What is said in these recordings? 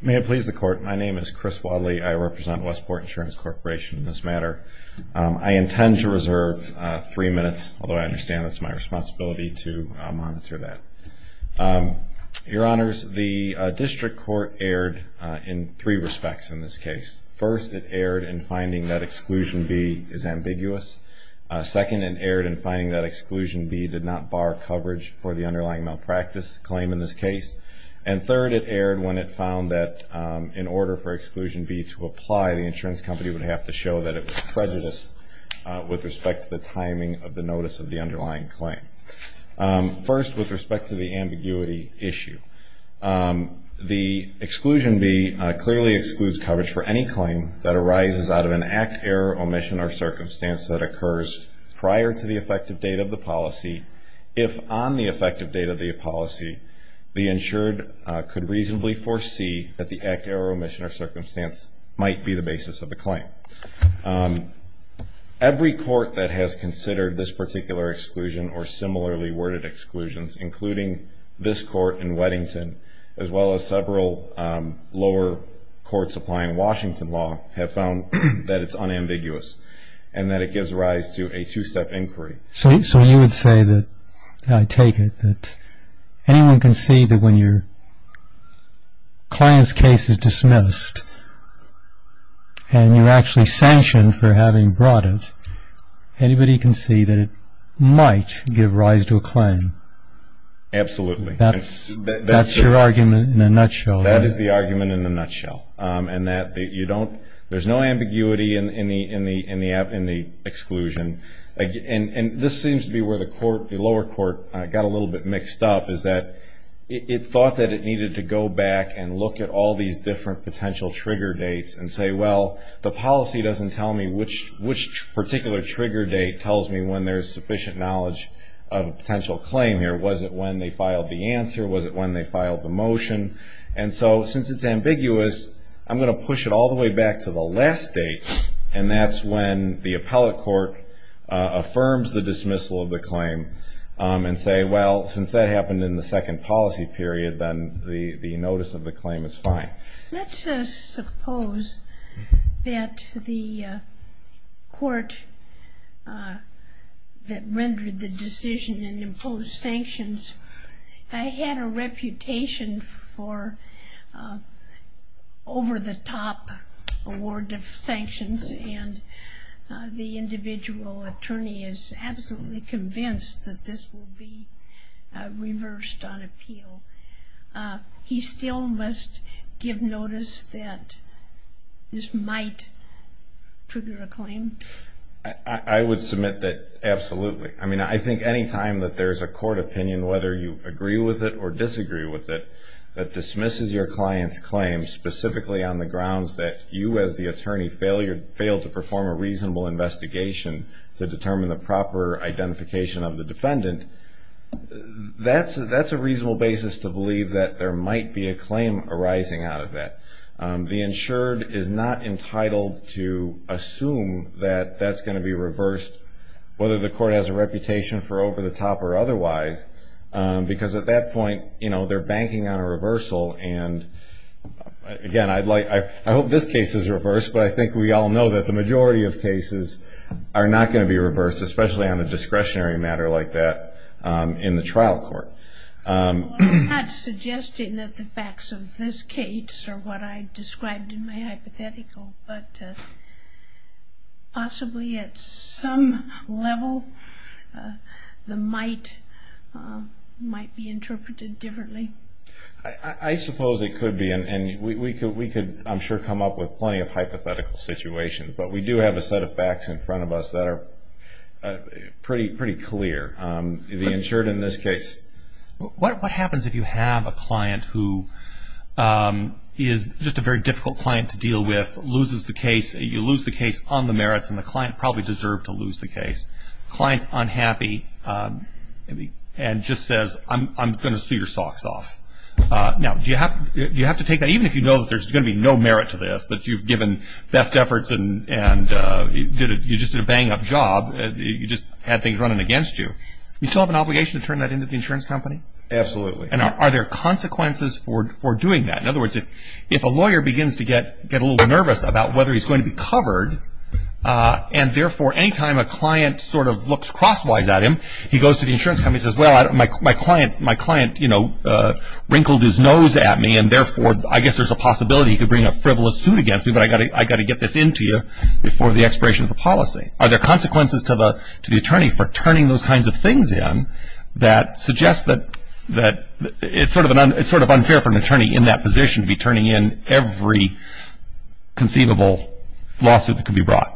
May it please the court, my name is Chris Wadley. I represent Westport Insurance Corporation in this matter. I intend to reserve three minutes, although I understand it's my responsibility to monitor that. Your honors, the district court erred in three respects in this case. First, it erred in finding that exclusion B is ambiguous. Second, it erred in finding that exclusion B did not bar coverage for the underlying malpractice claim in this case. And third, it erred when it found that in order for exclusion B to apply, the insurance company would have to show that it was prejudiced with respect to the timing of the notice of the underlying claim. First, with respect to the ambiguity issue, the exclusion B clearly excludes coverage for any claim that arises out of an act, error, omission, or circumstance that occurs prior to the effective date of the policy, if on the effective date of the policy, the insured could reasonably foresee that the act, error, omission, or circumstance might be the basis of the claim. Every court that has considered this particular exclusion or similarly worded exclusions, including this court in Weddington, as well as several lower courts applying Washington law, have found that it's unambiguous and that it gives rise to a two-step inquiry. So you would say that, I take it, that anyone can see that when your client's case is dismissed and you're actually sanctioned for having brought it, anybody can see that it might give rise to a claim. Absolutely. That's your argument in a nutshell. That is the argument in a nutshell. And that you don't, there's no ambiguity in the exclusion. And this seems to be where the lower court got a little bit mixed up, is that it thought that it needed to go back and look at all these different potential trigger dates and say, well, the policy doesn't tell me which particular trigger date tells me when there's sufficient knowledge of a potential claim here. Was it when they filed the answer? Was it when they filed the motion? And so, since it's ambiguous, I'm gonna push it all the way back to the last date and that's when the appellate court affirms the dismissal of the claim and say, well, since that happened in the second policy period, then the notice of the claim is fine. Let's suppose that the court that rendered the decision and imposed sanctions, had a reputation for over-the-top award of sanctions and the individual attorney is absolutely convinced that this will be reversed on appeal. He still must give notice that this might trigger a claim? I would submit that absolutely. I mean, I think any time that there's a court opinion, whether you agree with it or disagree with it, that dismisses your client's claim specifically on the grounds that you, as the attorney, failed to perform a reasonable investigation to determine the proper identification of the defendant, that's a reasonable basis to believe that there might be a claim arising out of that. The insured is not entitled to assume that that's gonna be reversed, whether the court has a reputation for over-the-top or otherwise, because at that point, they're banking on a reversal, and again, I hope this case is reversed, but I think we all know that the majority of cases are not gonna be reversed, especially on a discretionary matter like that in the trial court. I'm not suggesting that the facts of this case are what I described in my hypothetical, but possibly at some level, the might might be interpreted differently. I suppose it could be, and we could, I'm sure, come up with plenty of hypothetical situations, but we do have a set of facts in front of us that are pretty clear. The insured in this case. What happens if you have a client who is just a very difficult client to deal with, loses the case, you lose the case on the merits, and the client probably deserved to lose the case? Client's unhappy and just says, I'm gonna sue your socks off. Now, do you have to take that, even if you know that there's gonna be no merit to this, that you've given best efforts and you just did a bang-up job, you just had things running against you, you still have an obligation to turn that into the insurance company? Absolutely. And are there consequences for doing that? In other words, if a lawyer begins to get a little nervous about whether he's going to be covered, and therefore, anytime a client sort of looks crosswise at him, he goes to the insurance company and says, well, my client wrinkled his nose at me, and therefore, I guess there's a possibility he could bring a frivolous suit against me, but I gotta get this into you before the expiration of the policy. Are there consequences to the attorney for turning those kinds of things in that suggest that it's sort of unfair for an attorney in that position to be turning in every conceivable lawsuit that could be brought?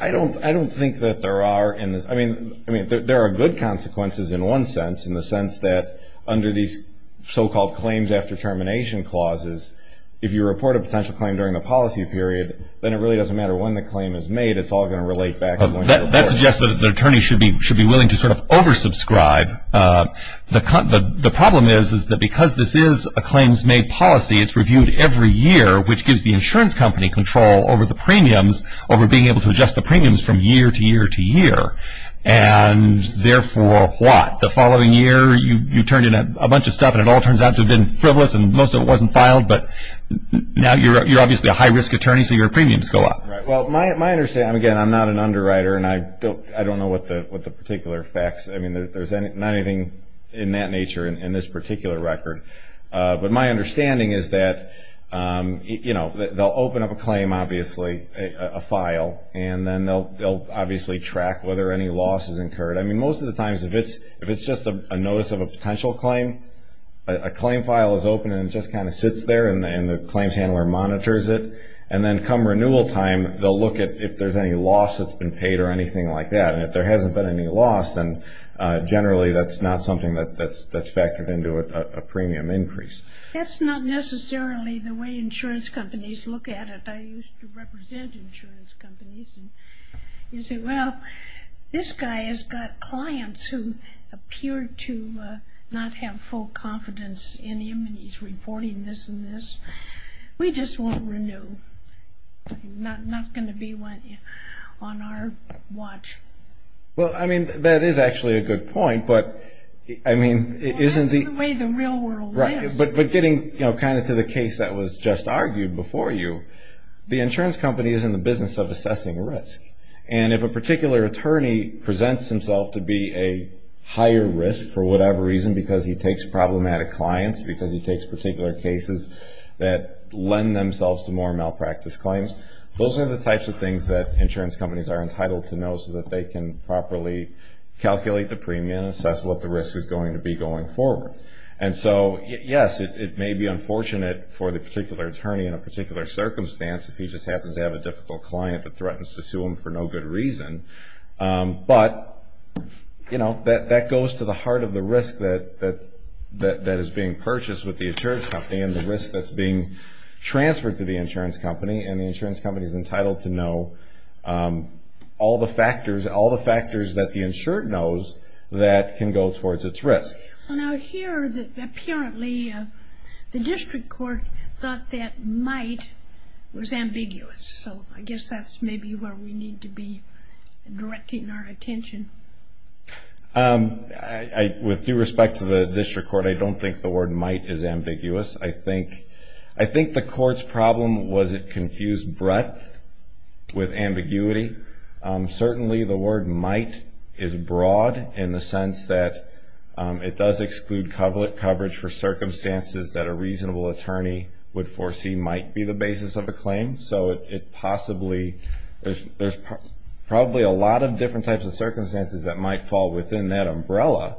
I don't think that there are in this, I mean, there are good consequences in one sense, in the sense that under these so-called claims after termination clauses, if you report a potential claim during the policy period, then it really doesn't matter when the claim is made, it's all gonna relate back to when you report it. That suggests that the attorney should be willing to sort of oversubscribe. The problem is that because this is a claims-made policy, it's reviewed every year, which gives the insurance company control over the premiums, over being able to adjust the premiums from year to year to year, and therefore, what? The following year, you turn in a bunch of stuff and it all turns out to have been frivolous and most of it wasn't filed, but now you're obviously a high-risk attorney, so your premiums go up. Well, my understanding, again, I'm not an underwriter, and I don't know what the particular facts, I mean, there's not anything in that nature in this particular record, but my understanding is that, you know, they'll open up a claim, obviously, a file, and then they'll obviously track whether any loss is incurred. I mean, most of the times, if it's just a notice of a potential claim, a claim file is open and it just kind of sits there and the claims handler monitors it, and then come renewal time, they'll look at if there's any loss that's been paid or anything like that, and if there hasn't been any loss, then generally, that's not something that's factored into a premium increase. That's not necessarily the way insurance companies look at it. I used to represent insurance companies, and you'd say, well, this guy has got clients who appear to not have full confidence in him, and he's reporting this and this. We just won't renew. Not gonna be on our watch. Well, I mean, that is actually a good point, but, I mean, isn't the- Well, that's the way the real world is. But getting kind of to the case that was just argued before you, the insurance company is in the business of assessing risk, and if a particular attorney presents himself to be a higher risk for whatever reason, because he takes problematic clients, because he takes particular cases that lend themselves to more malpractice claims, those are the types of things that insurance companies are entitled to know so that they can properly calculate the premium and assess what the risk is going to be going forward. And so, yes, it may be unfortunate for the particular attorney in a particular circumstance if he just happens to have a difficult client that threatens to sue him for no good reason, but that goes to the heart of the risk that is being purchased with the insurance company and the risk that's being transferred to the insurance company, and the insurance company's entitled to know all the factors that the insured knows that can go towards its risk. Well, now, here, apparently, the district court thought that might was ambiguous, so I guess that's maybe where we need to be directing our attention. With due respect to the district court, I don't think the word might is ambiguous. I think the court's problem was it confused breadth with ambiguity. Certainly, the word might is broad in the sense that it does exclude coverage for circumstances that a reasonable attorney would foresee might be the basis of a claim, so it possibly, there's probably a lot of different types of circumstances that might fall within that umbrella,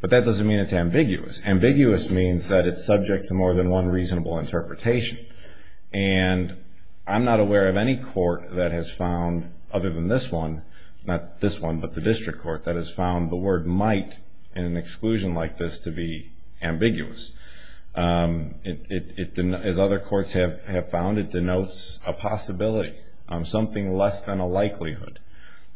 but that doesn't mean it's ambiguous. Ambiguous means that it's subject to more than one reasonable interpretation, and I'm not aware of any court that has found, other than this one, not this one, but the district court, that has found the word might in an exclusion like this to be ambiguous. As other courts have found, it denotes a possibility, something less than a likelihood,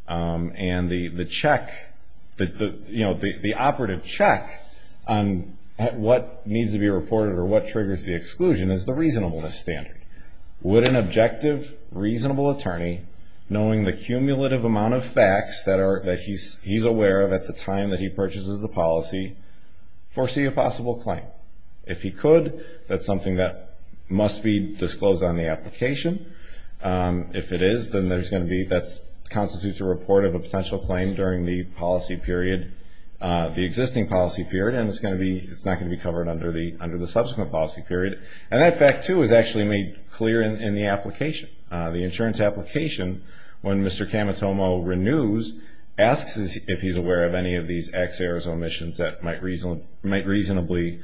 and the check, the operative check on what needs to be reported or what triggers the exclusion is the reasonableness standard. Would an objective, reasonable attorney, knowing the cumulative amount of facts that he's aware of at the time that he purchases the policy, foresee a possible claim? If he could, that's something that must be disclosed on the application. If it is, then there's gonna be, that constitutes a report of a potential claim during the policy period, the existing policy period, and it's not gonna be covered under the subsequent policy period, and that fact, too, is actually made clear in the application. The insurance application, when Mr. Camatomo renews, asks if he's aware of any of these ex aerosol emissions that might reasonably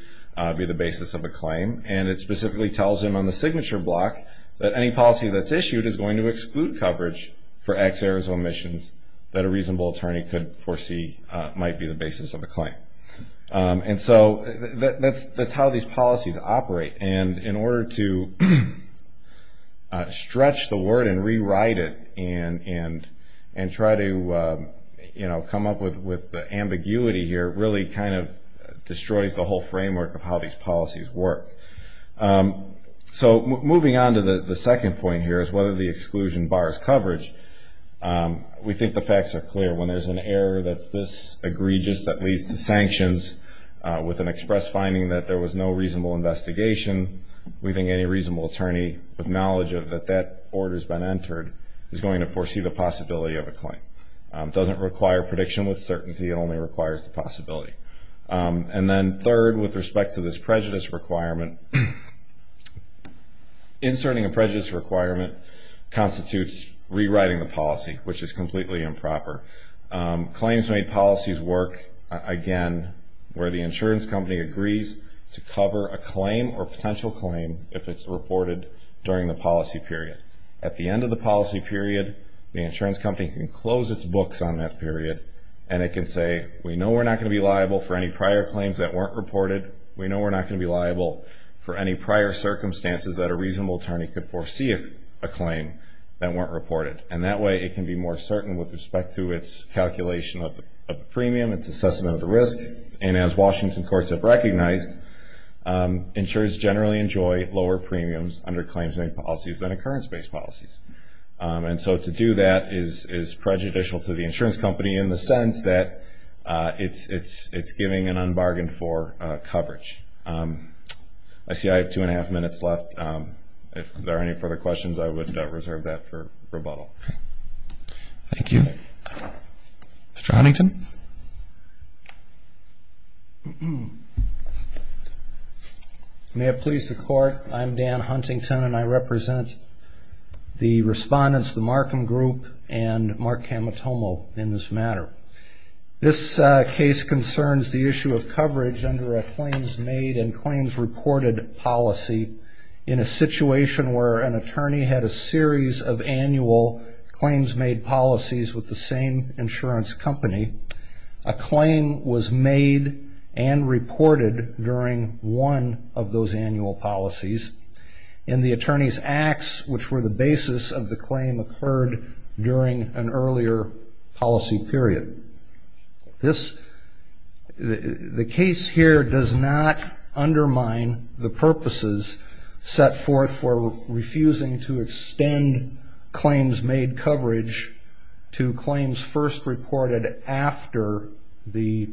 be the basis of a claim, and it specifically tells him on the signature block that any policy that's issued is going to exclude coverage for ex aerosol emissions that a reasonable attorney could foresee might be the basis of a claim. And so, that's how these policies operate, and in order to stretch the word and rewrite it and try to, you know, come up with ambiguity here really kind of destroys the whole framework of how these policies work. So, moving on to the second point here is whether the exclusion bars coverage. We think the facts are clear. When there's an error that's this egregious that leads to sanctions with an express finding that there was no reasonable investigation, we think any reasonable attorney with knowledge of that that order's been entered is going to foresee the possibility of a claim. It doesn't require prediction with certainty. It only requires the possibility. And then third, with respect to this prejudice requirement, inserting a prejudice requirement constitutes rewriting the policy, which is completely improper. Claims made policies work, again, where the insurance company agrees to cover a claim or potential claim if it's reported during the policy period. At the end of the policy period, the insurance company can close its books on that period and it can say, we know we're not going to be liable for any prior claims that weren't reported. We know we're not going to be liable for any prior circumstances that a reasonable attorney could foresee a claim that weren't reported. And that way it can be more certain with respect to its calculation of the premium, its assessment of the risk. And as Washington courts have recognized, insurers generally enjoy lower premiums under claims made policies than occurrence based policies. And so to do that is prejudicial to the insurance company in the sense that it's giving an unbargain for coverage. I see I have two and a half minutes left. If there are any further questions, I would reserve that for rebuttal. Thank you. Mr. Huntington. May it please the court. I'm Dan Huntington and I represent the respondents, the Markham Group and Mark Camatomo in this matter. This case concerns the issue of coverage under a claims made and claims reported policy in a situation where an attorney had a series of annual claims made policies with the same insurance company. A claim was made and reported during one of those annual policies in the attorney's acts, which were the basis of the claim occurred during an earlier policy period. The case here does not undermine the purposes set forth for refusing to extend claims made coverage to claims first reported after the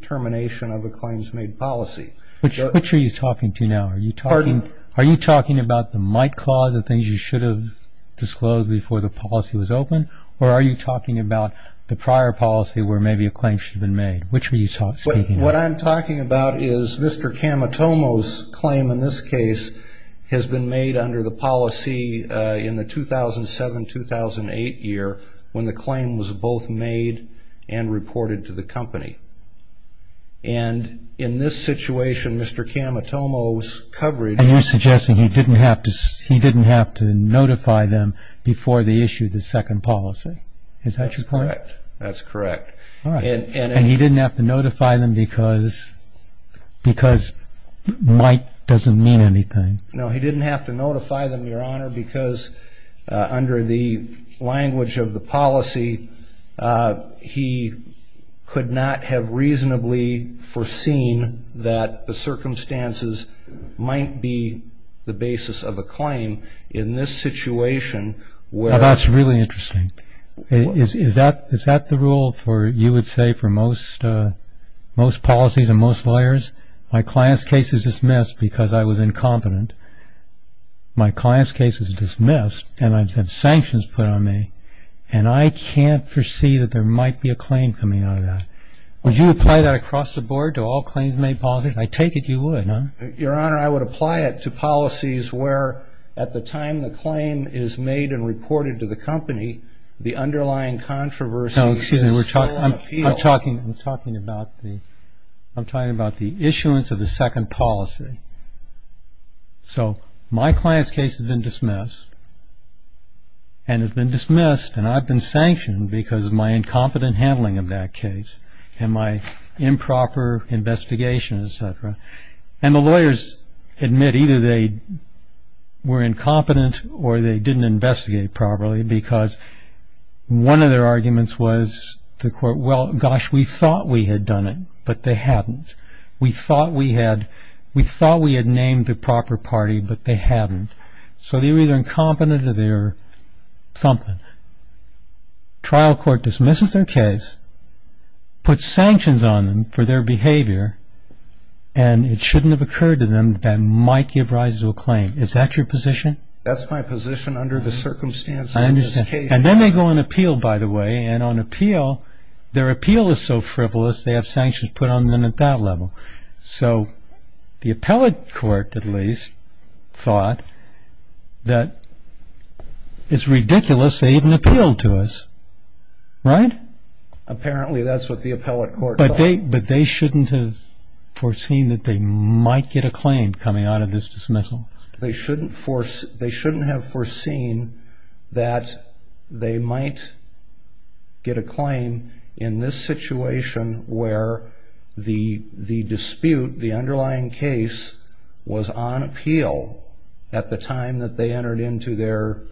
termination of a claims made policy. Which are you talking to now? Are you talking about the Mike clause and things you should have disclosed before the policy was open? Or are you talking about the prior policy where maybe a claim should have been made? Which were you speaking about? What I'm talking about is Mr. Camatomo's claim in this case has been made under the policy in the 2007-2008 year, when the claim was both made and reported to the company. And in this situation, Mr. Camatomo's coverage... And you're suggesting he didn't have to notify them before they issued the second policy. Is that correct? That's correct, that's correct. All right. And he didn't have to notify them because Mike doesn't mean anything. No, he didn't have to notify them, Your Honor, because under the language of the policy, he could not have reasonably foreseen that the circumstances might be the basis of a claim in this situation where... That's really interesting. Is that the rule for, you would say, for most policies and most lawyers? My client's case is dismissed because I was incompetent. My client's case is dismissed and I've had sanctions put on me. And I can't foresee that there might be a claim coming out of that. Would you apply that across the board to all claims made policies? I take it you would, huh? Your Honor, I would apply it to policies where at the time the claim is made and reported to the company, the underlying controversy is full appeal. I'm talking about the issuance of the second policy. So my client's case has been dismissed and has been dismissed and I've been sanctioned because of my incompetent handling of that case and my improper investigation, et cetera. And the lawyers admit either they were incompetent or they didn't investigate properly because one of their arguments was to quote, well, gosh, we thought we had done it, but they hadn't. We thought we had named the proper party, but they hadn't. So they were either incompetent or they were something. Trial court dismisses their case, puts sanctions on them for their behavior, and it shouldn't have occurred to them that that might give rise to a claim. Is that your position? That's my position under the circumstances of this case. And then they go on appeal, by the way, and on appeal, their appeal is so frivolous, they have sanctions put on them at that level. So the appellate court, at least, thought that it's ridiculous they even appealed to us. Right? Apparently, that's what the appellate court thought. But they shouldn't have foreseen that they might get a claim coming out of this dismissal. They shouldn't have foreseen that they might get a claim in this situation where the dispute, the underlying case, was on appeal at the time that they entered into their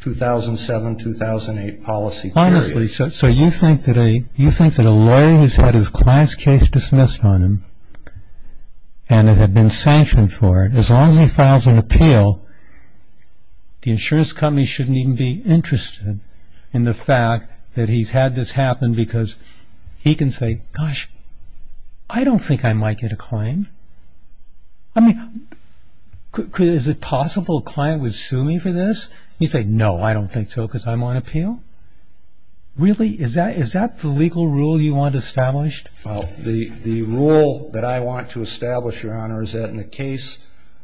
2007-2008 policy period. Honestly, so you think that a lawyer who's had his client's case dismissed on him and had been sanctioned for it, as long as he files an appeal, the insurance company shouldn't even be interested in the fact that he's had this happen because he can say, gosh, I don't think I might get a claim. I mean, is it possible a client would sue me for this? You say, no, I don't think so, because I'm on appeal. Really, is that the legal rule you want established? The rule that I want to establish, Your Honor, is that in a case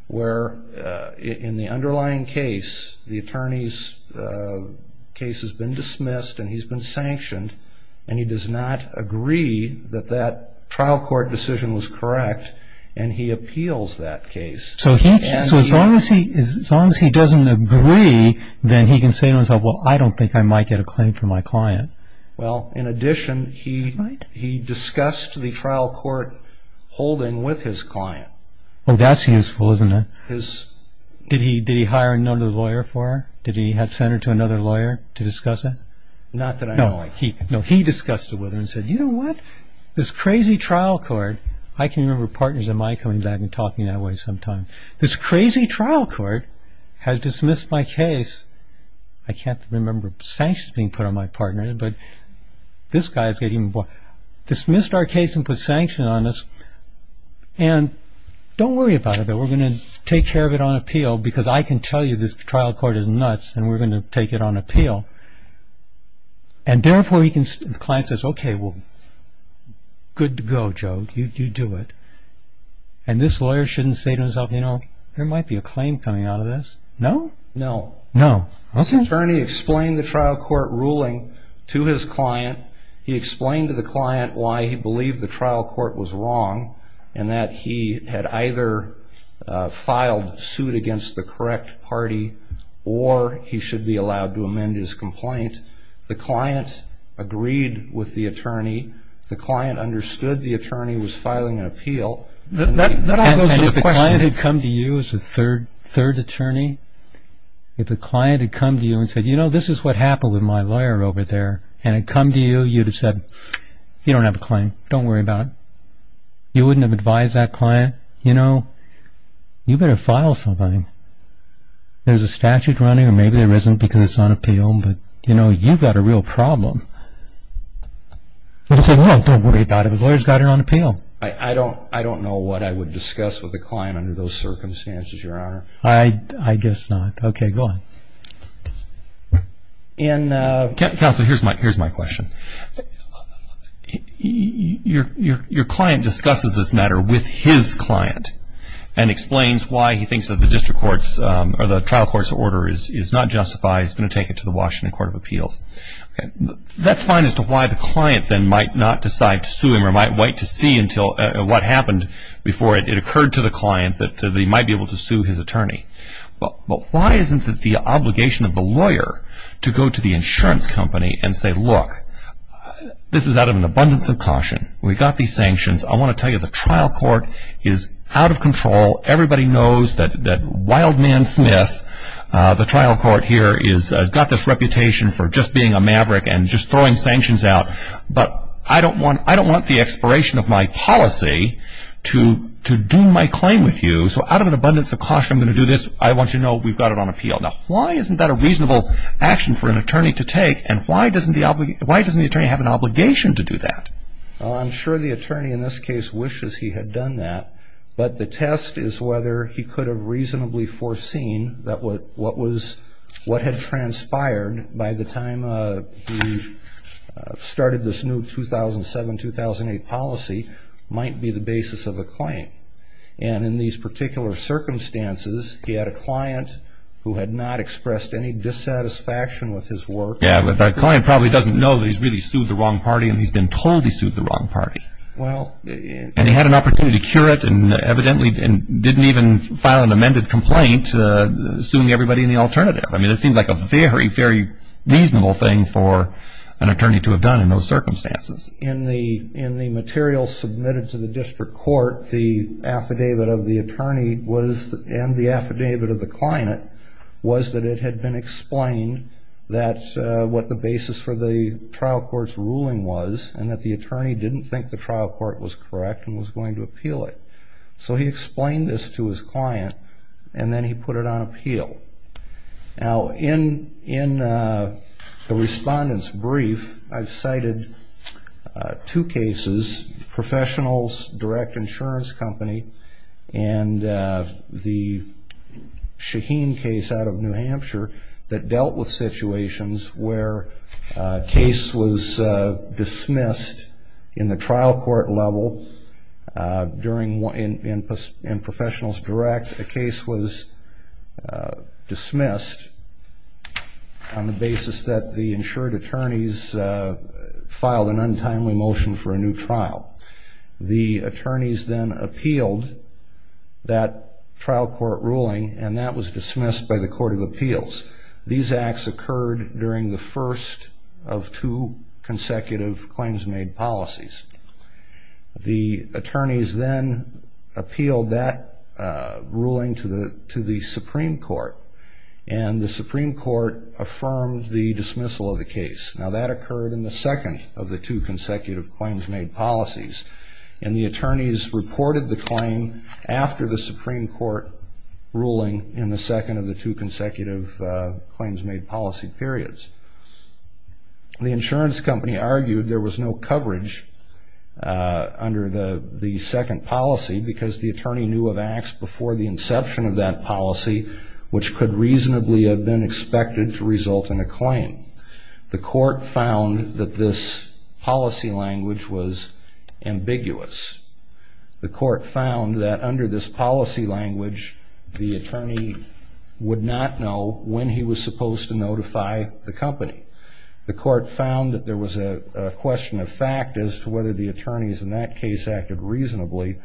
where in the underlying case, the attorney's case has been dismissed and he's been sanctioned, and he does not agree that that trial court decision was correct, and he appeals that case. So as long as he doesn't agree, then he can say to himself, well, I don't think I might get a claim from my client. Well, in addition, he discussed the trial court holding with his client. Oh, that's useful, isn't it? Did he hire another lawyer for her? Did he send her to another lawyer to discuss it? Not that I know of. No, he discussed it with her and said, you know what? This crazy trial court, I can remember partners of mine coming back and talking that way sometimes. This crazy trial court has dismissed my case. I can't remember sanctions being put on my partner, but this guy's getting involved. Dismissed our case and put sanction on us. And don't worry about it, though. We're going to take care of it on appeal, because I can tell you this trial court is nuts, and we're going to take it on appeal. And therefore, the client says, OK, well, good to go, Joe. You do it. And this lawyer shouldn't say to himself, there might be a claim coming out of this. No? No. No. OK. The attorney explained the trial court ruling to his client. He explained to the client why he believed the trial court was wrong, and that he had either filed suit against the correct party, or he should be allowed to amend his complaint. The client agreed with the attorney. The client understood the attorney was filing an appeal. That all goes to the question. And if the client had come to you as a third attorney, if the client had come to you and said, you know, this is what happened with my lawyer over there, and had come to you, you'd have said, you don't have a claim. Don't worry about it. You wouldn't have advised that client, you know, you better file something. There's a statute running, or maybe there isn't, because it's on appeal. But you know, you've got a real problem. They'd say, well, don't worry about it. The lawyer's got it on appeal. I don't know what I would discuss with a client under those circumstances, Your Honor. I guess not. OK, go on. In a- Counselor, here's my question. Your client discusses this matter with his client, and explains why he thinks that the district courts, or the trial court's order is not justified. He's going to take it to the Washington Court of Appeals. That's fine as to why the client then might not decide to sue him, or might wait to see until what happened before it occurred to the client that he might be able to sue his attorney. But why isn't it the obligation of the lawyer to go to the insurance company and say, look, this is out of an abundance of caution. We've got these sanctions. I want to tell you, the trial court is out of control. Everybody knows that wild man Smith, the trial court here, has got this reputation for just being a maverick and just throwing sanctions out. But I don't want the expiration of my policy to doom my claim with you, so out of an abundance of caution, I want you to know we've got it on appeal. Why isn't that a reasonable action for an attorney to take? And why doesn't the attorney have an obligation to do that? I'm sure the attorney in this case wishes he had done that. But the test is whether he could have reasonably foreseen that what had transpired by the time he started this new 2007, 2008 policy might be the basis of a claim. And in these particular circumstances, he had a client who had not expressed any dissatisfaction with his work. Yeah, but that client probably doesn't know that he's really sued the wrong party, and he's been told he sued the wrong party. And he had an opportunity to cure it and evidently didn't even file an amended complaint suing everybody in the alternative. I mean, it seemed like a very, very reasonable thing for an attorney to have done in those circumstances. In the material submitted to the district court, the affidavit of the attorney and the affidavit of the client was that it had been explained that what the basis for the trial court's ruling was and that the attorney didn't think the trial court was correct and was going to appeal it. So he explained this to his client, and then he put it on appeal. Now, in the respondent's brief, I've got the insurance company and the Shaheen case out of New Hampshire that dealt with situations where a case was dismissed in the trial court level during one in Professionals Direct. A case was dismissed on the basis that the insured attorneys filed an untimely motion for a new trial. The attorneys then appealed that trial court ruling, and that was dismissed by the Court of Appeals. These acts occurred during the first of two consecutive claims made policies. The attorneys then appealed that ruling to the Supreme Court, and the Supreme Court affirmed the dismissal of the case. Now, that occurred in the second of the two And the attorneys reported the claim after the Supreme Court ruling in the second of the two consecutive claims made policy periods. The insurance company argued there was no coverage under the second policy because the attorney knew of acts before the inception of that policy, which could reasonably have been expected to result in a claim. The court found that this policy language was ambiguous. The court found that under this policy language, the attorney would not know when he was supposed to notify the company. The court found that there was a question of fact as to whether the attorneys in that case acted reasonably,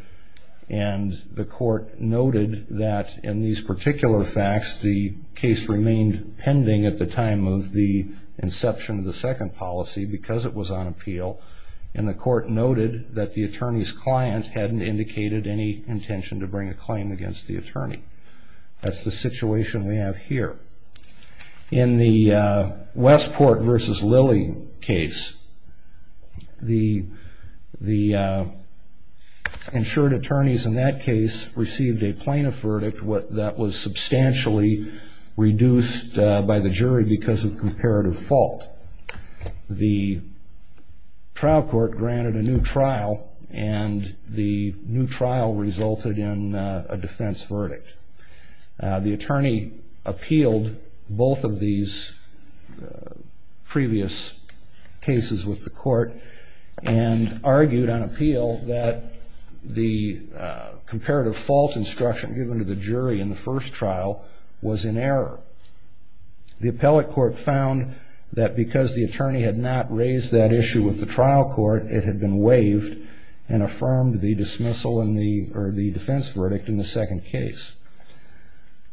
and the court noted that in these particular facts, the case remained pending at the time of the inception of the second policy because it was on appeal. And the court noted that the attorney's client hadn't indicated any intention to bring a claim against the attorney. That's the situation we have here. In the Westport versus Lilly case, the insured attorneys in that case received a plaintiff verdict that was substantially reduced by the jury because of comparative fault. The trial court granted a new trial, and the new trial resulted in a defense verdict. The attorney appealed both of these previous cases with the court and argued on appeal that the comparative fault instruction given to the jury in the first trial was in error. The appellate court found that because the attorney had not raised that issue with the trial court, it had been waived and affirmed the dismissal or the defense verdict in the second case.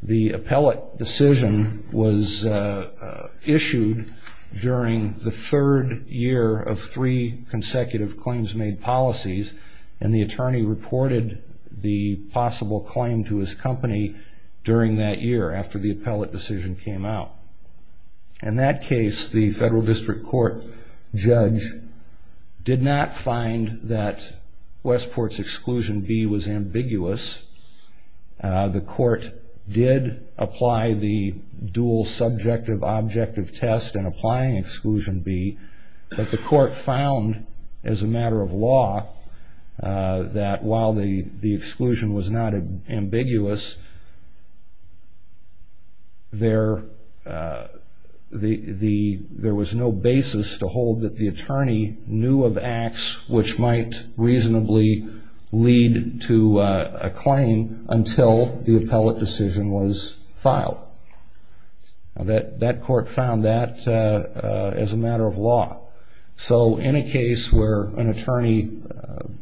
The appellate decision was issued during the third year of three consecutive claims made policies, and the attorney reported the possible claim to his company during that year after the appellate decision came out. In that case, the federal district court judge did not find that Westport's exclusion B was ambiguous. The court did apply the dual subjective objective test in applying exclusion B, but the court found as a matter of law that while the exclusion was not ambiguous, there was no basis to hold that the attorney knew of acts which might reasonably lead to a claim until the appellate decision was filed. So in a case where an attorney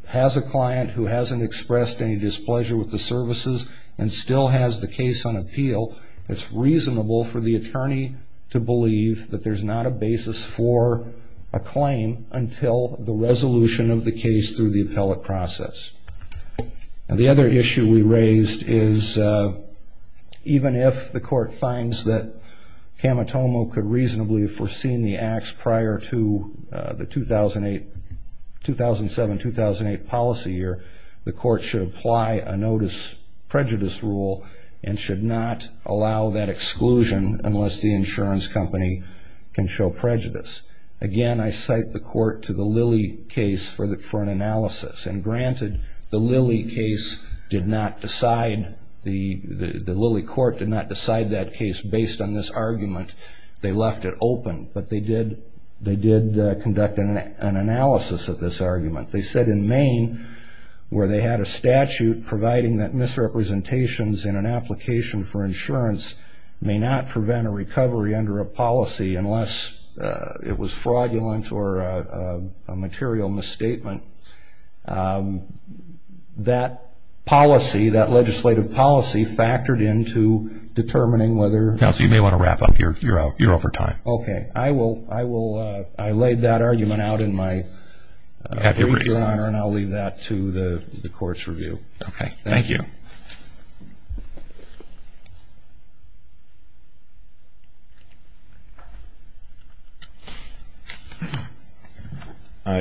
has a client who hasn't expressed any displeasure with the services and still has the case on appeal, it's reasonable for the attorney to believe that there's not a basis for a claim until the resolution of the case through the appellate process. The other issue we raised is even if the court finds that Camatomo could reasonably foreseen the acts prior to the 2007-2008 policy year, the court should apply a notice prejudice rule and should not allow that exclusion unless the insurance company can show prejudice. Again, I cite the court to the Lilly case for an analysis. And granted, the Lilly court did not decide that case based on this argument. They left it open. But they did conduct an analysis of this argument. They said in Maine, where they had a statute providing that misrepresentations in an application for insurance may not prevent a recovery under a policy unless it was fraudulent or a material misstatement, that policy, that legislative policy, factored into determining whether- Counsel, you may want to wrap up here. You're over time. OK. I will. I laid that argument out in my brief, Your Honor. And I'll leave that to the court's review. OK, thank you.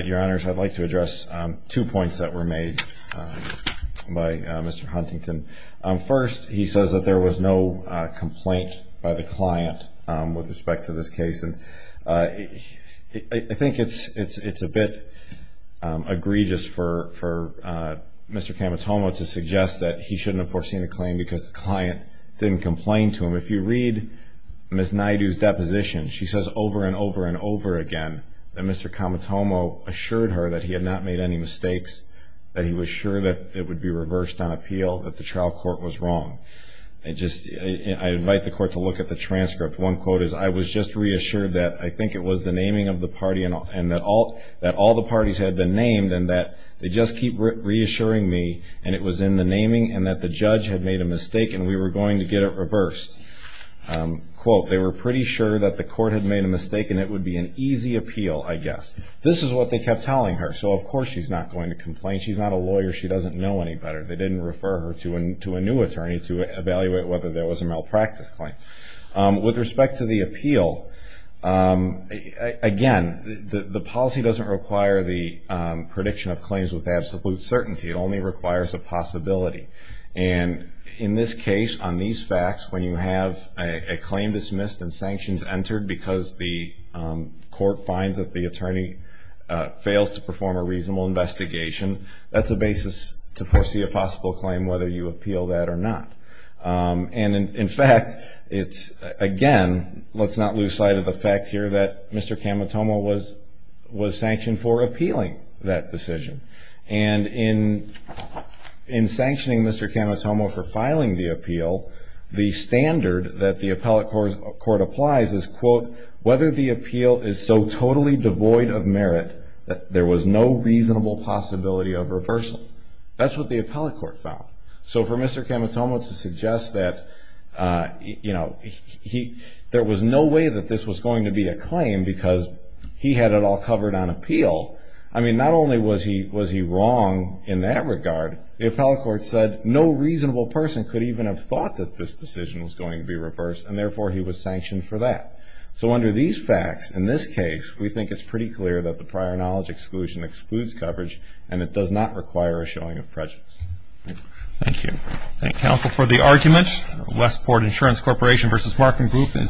Your Honors, I'd like to address two points that were made by Mr. Huntington. First, he says that there was no complaint by the client with respect to this case. And I think it's a bit egregious for Mr. Kamatomo to suggest that he shouldn't have foreseen a claim because the client didn't complain to him. If you read Ms. Naidoo's deposition, she says over and over and over again that Mr. Kamatomo assured her that he had not made any mistakes, that he was sure that it would be reversed on appeal, that the trial court was wrong. I invite the court to look at the transcript. One quote is, I was just reassured that I think it was the naming of the party and that all the parties had been named and that they just keep reassuring me and it was in the naming and that the judge had made a mistake and we were going to get it reversed. Quote, they were pretty sure that the court had made a mistake and it would be an easy appeal, I guess. This is what they kept telling her. So of course she's not going to complain. She's not a lawyer. She doesn't know any better. They didn't refer her to a new attorney to evaluate whether there was a malpractice claim. With respect to the appeal, again, the policy doesn't require the prediction of claims with absolute certainty. It only requires a possibility. And in this case, on these facts, when you have a claim dismissed and sanctions entered because the court finds that the attorney fails to perform a reasonable investigation, that's a basis to foresee a possible claim whether you appeal that or not. And in fact, again, let's not lose sight of the fact here that Mr. Camatomo was sanctioned for appealing that decision. And in sanctioning Mr. Camatomo for filing the appeal, the standard that the appellate court applies is, quote, whether the appeal is so totally devoid of merit that there was no reasonable possibility of reversal. That's what the appellate court found. So for Mr. Camatomo to suggest that there was no way that this was going to be a claim because he had it all covered on appeal, I mean, not only was he wrong in that regard, the appellate court said no reasonable person could even have thought that this decision was going to be reversed. And therefore, he was sanctioned for that. So under these facts, in this case, we think it's pretty clear that the prior knowledge exclusion excludes coverage, and it does not require a showing of prejudice. Thank you. Thank counsel for the argument. Westport Insurance Corporation versus Markham Group is submitted.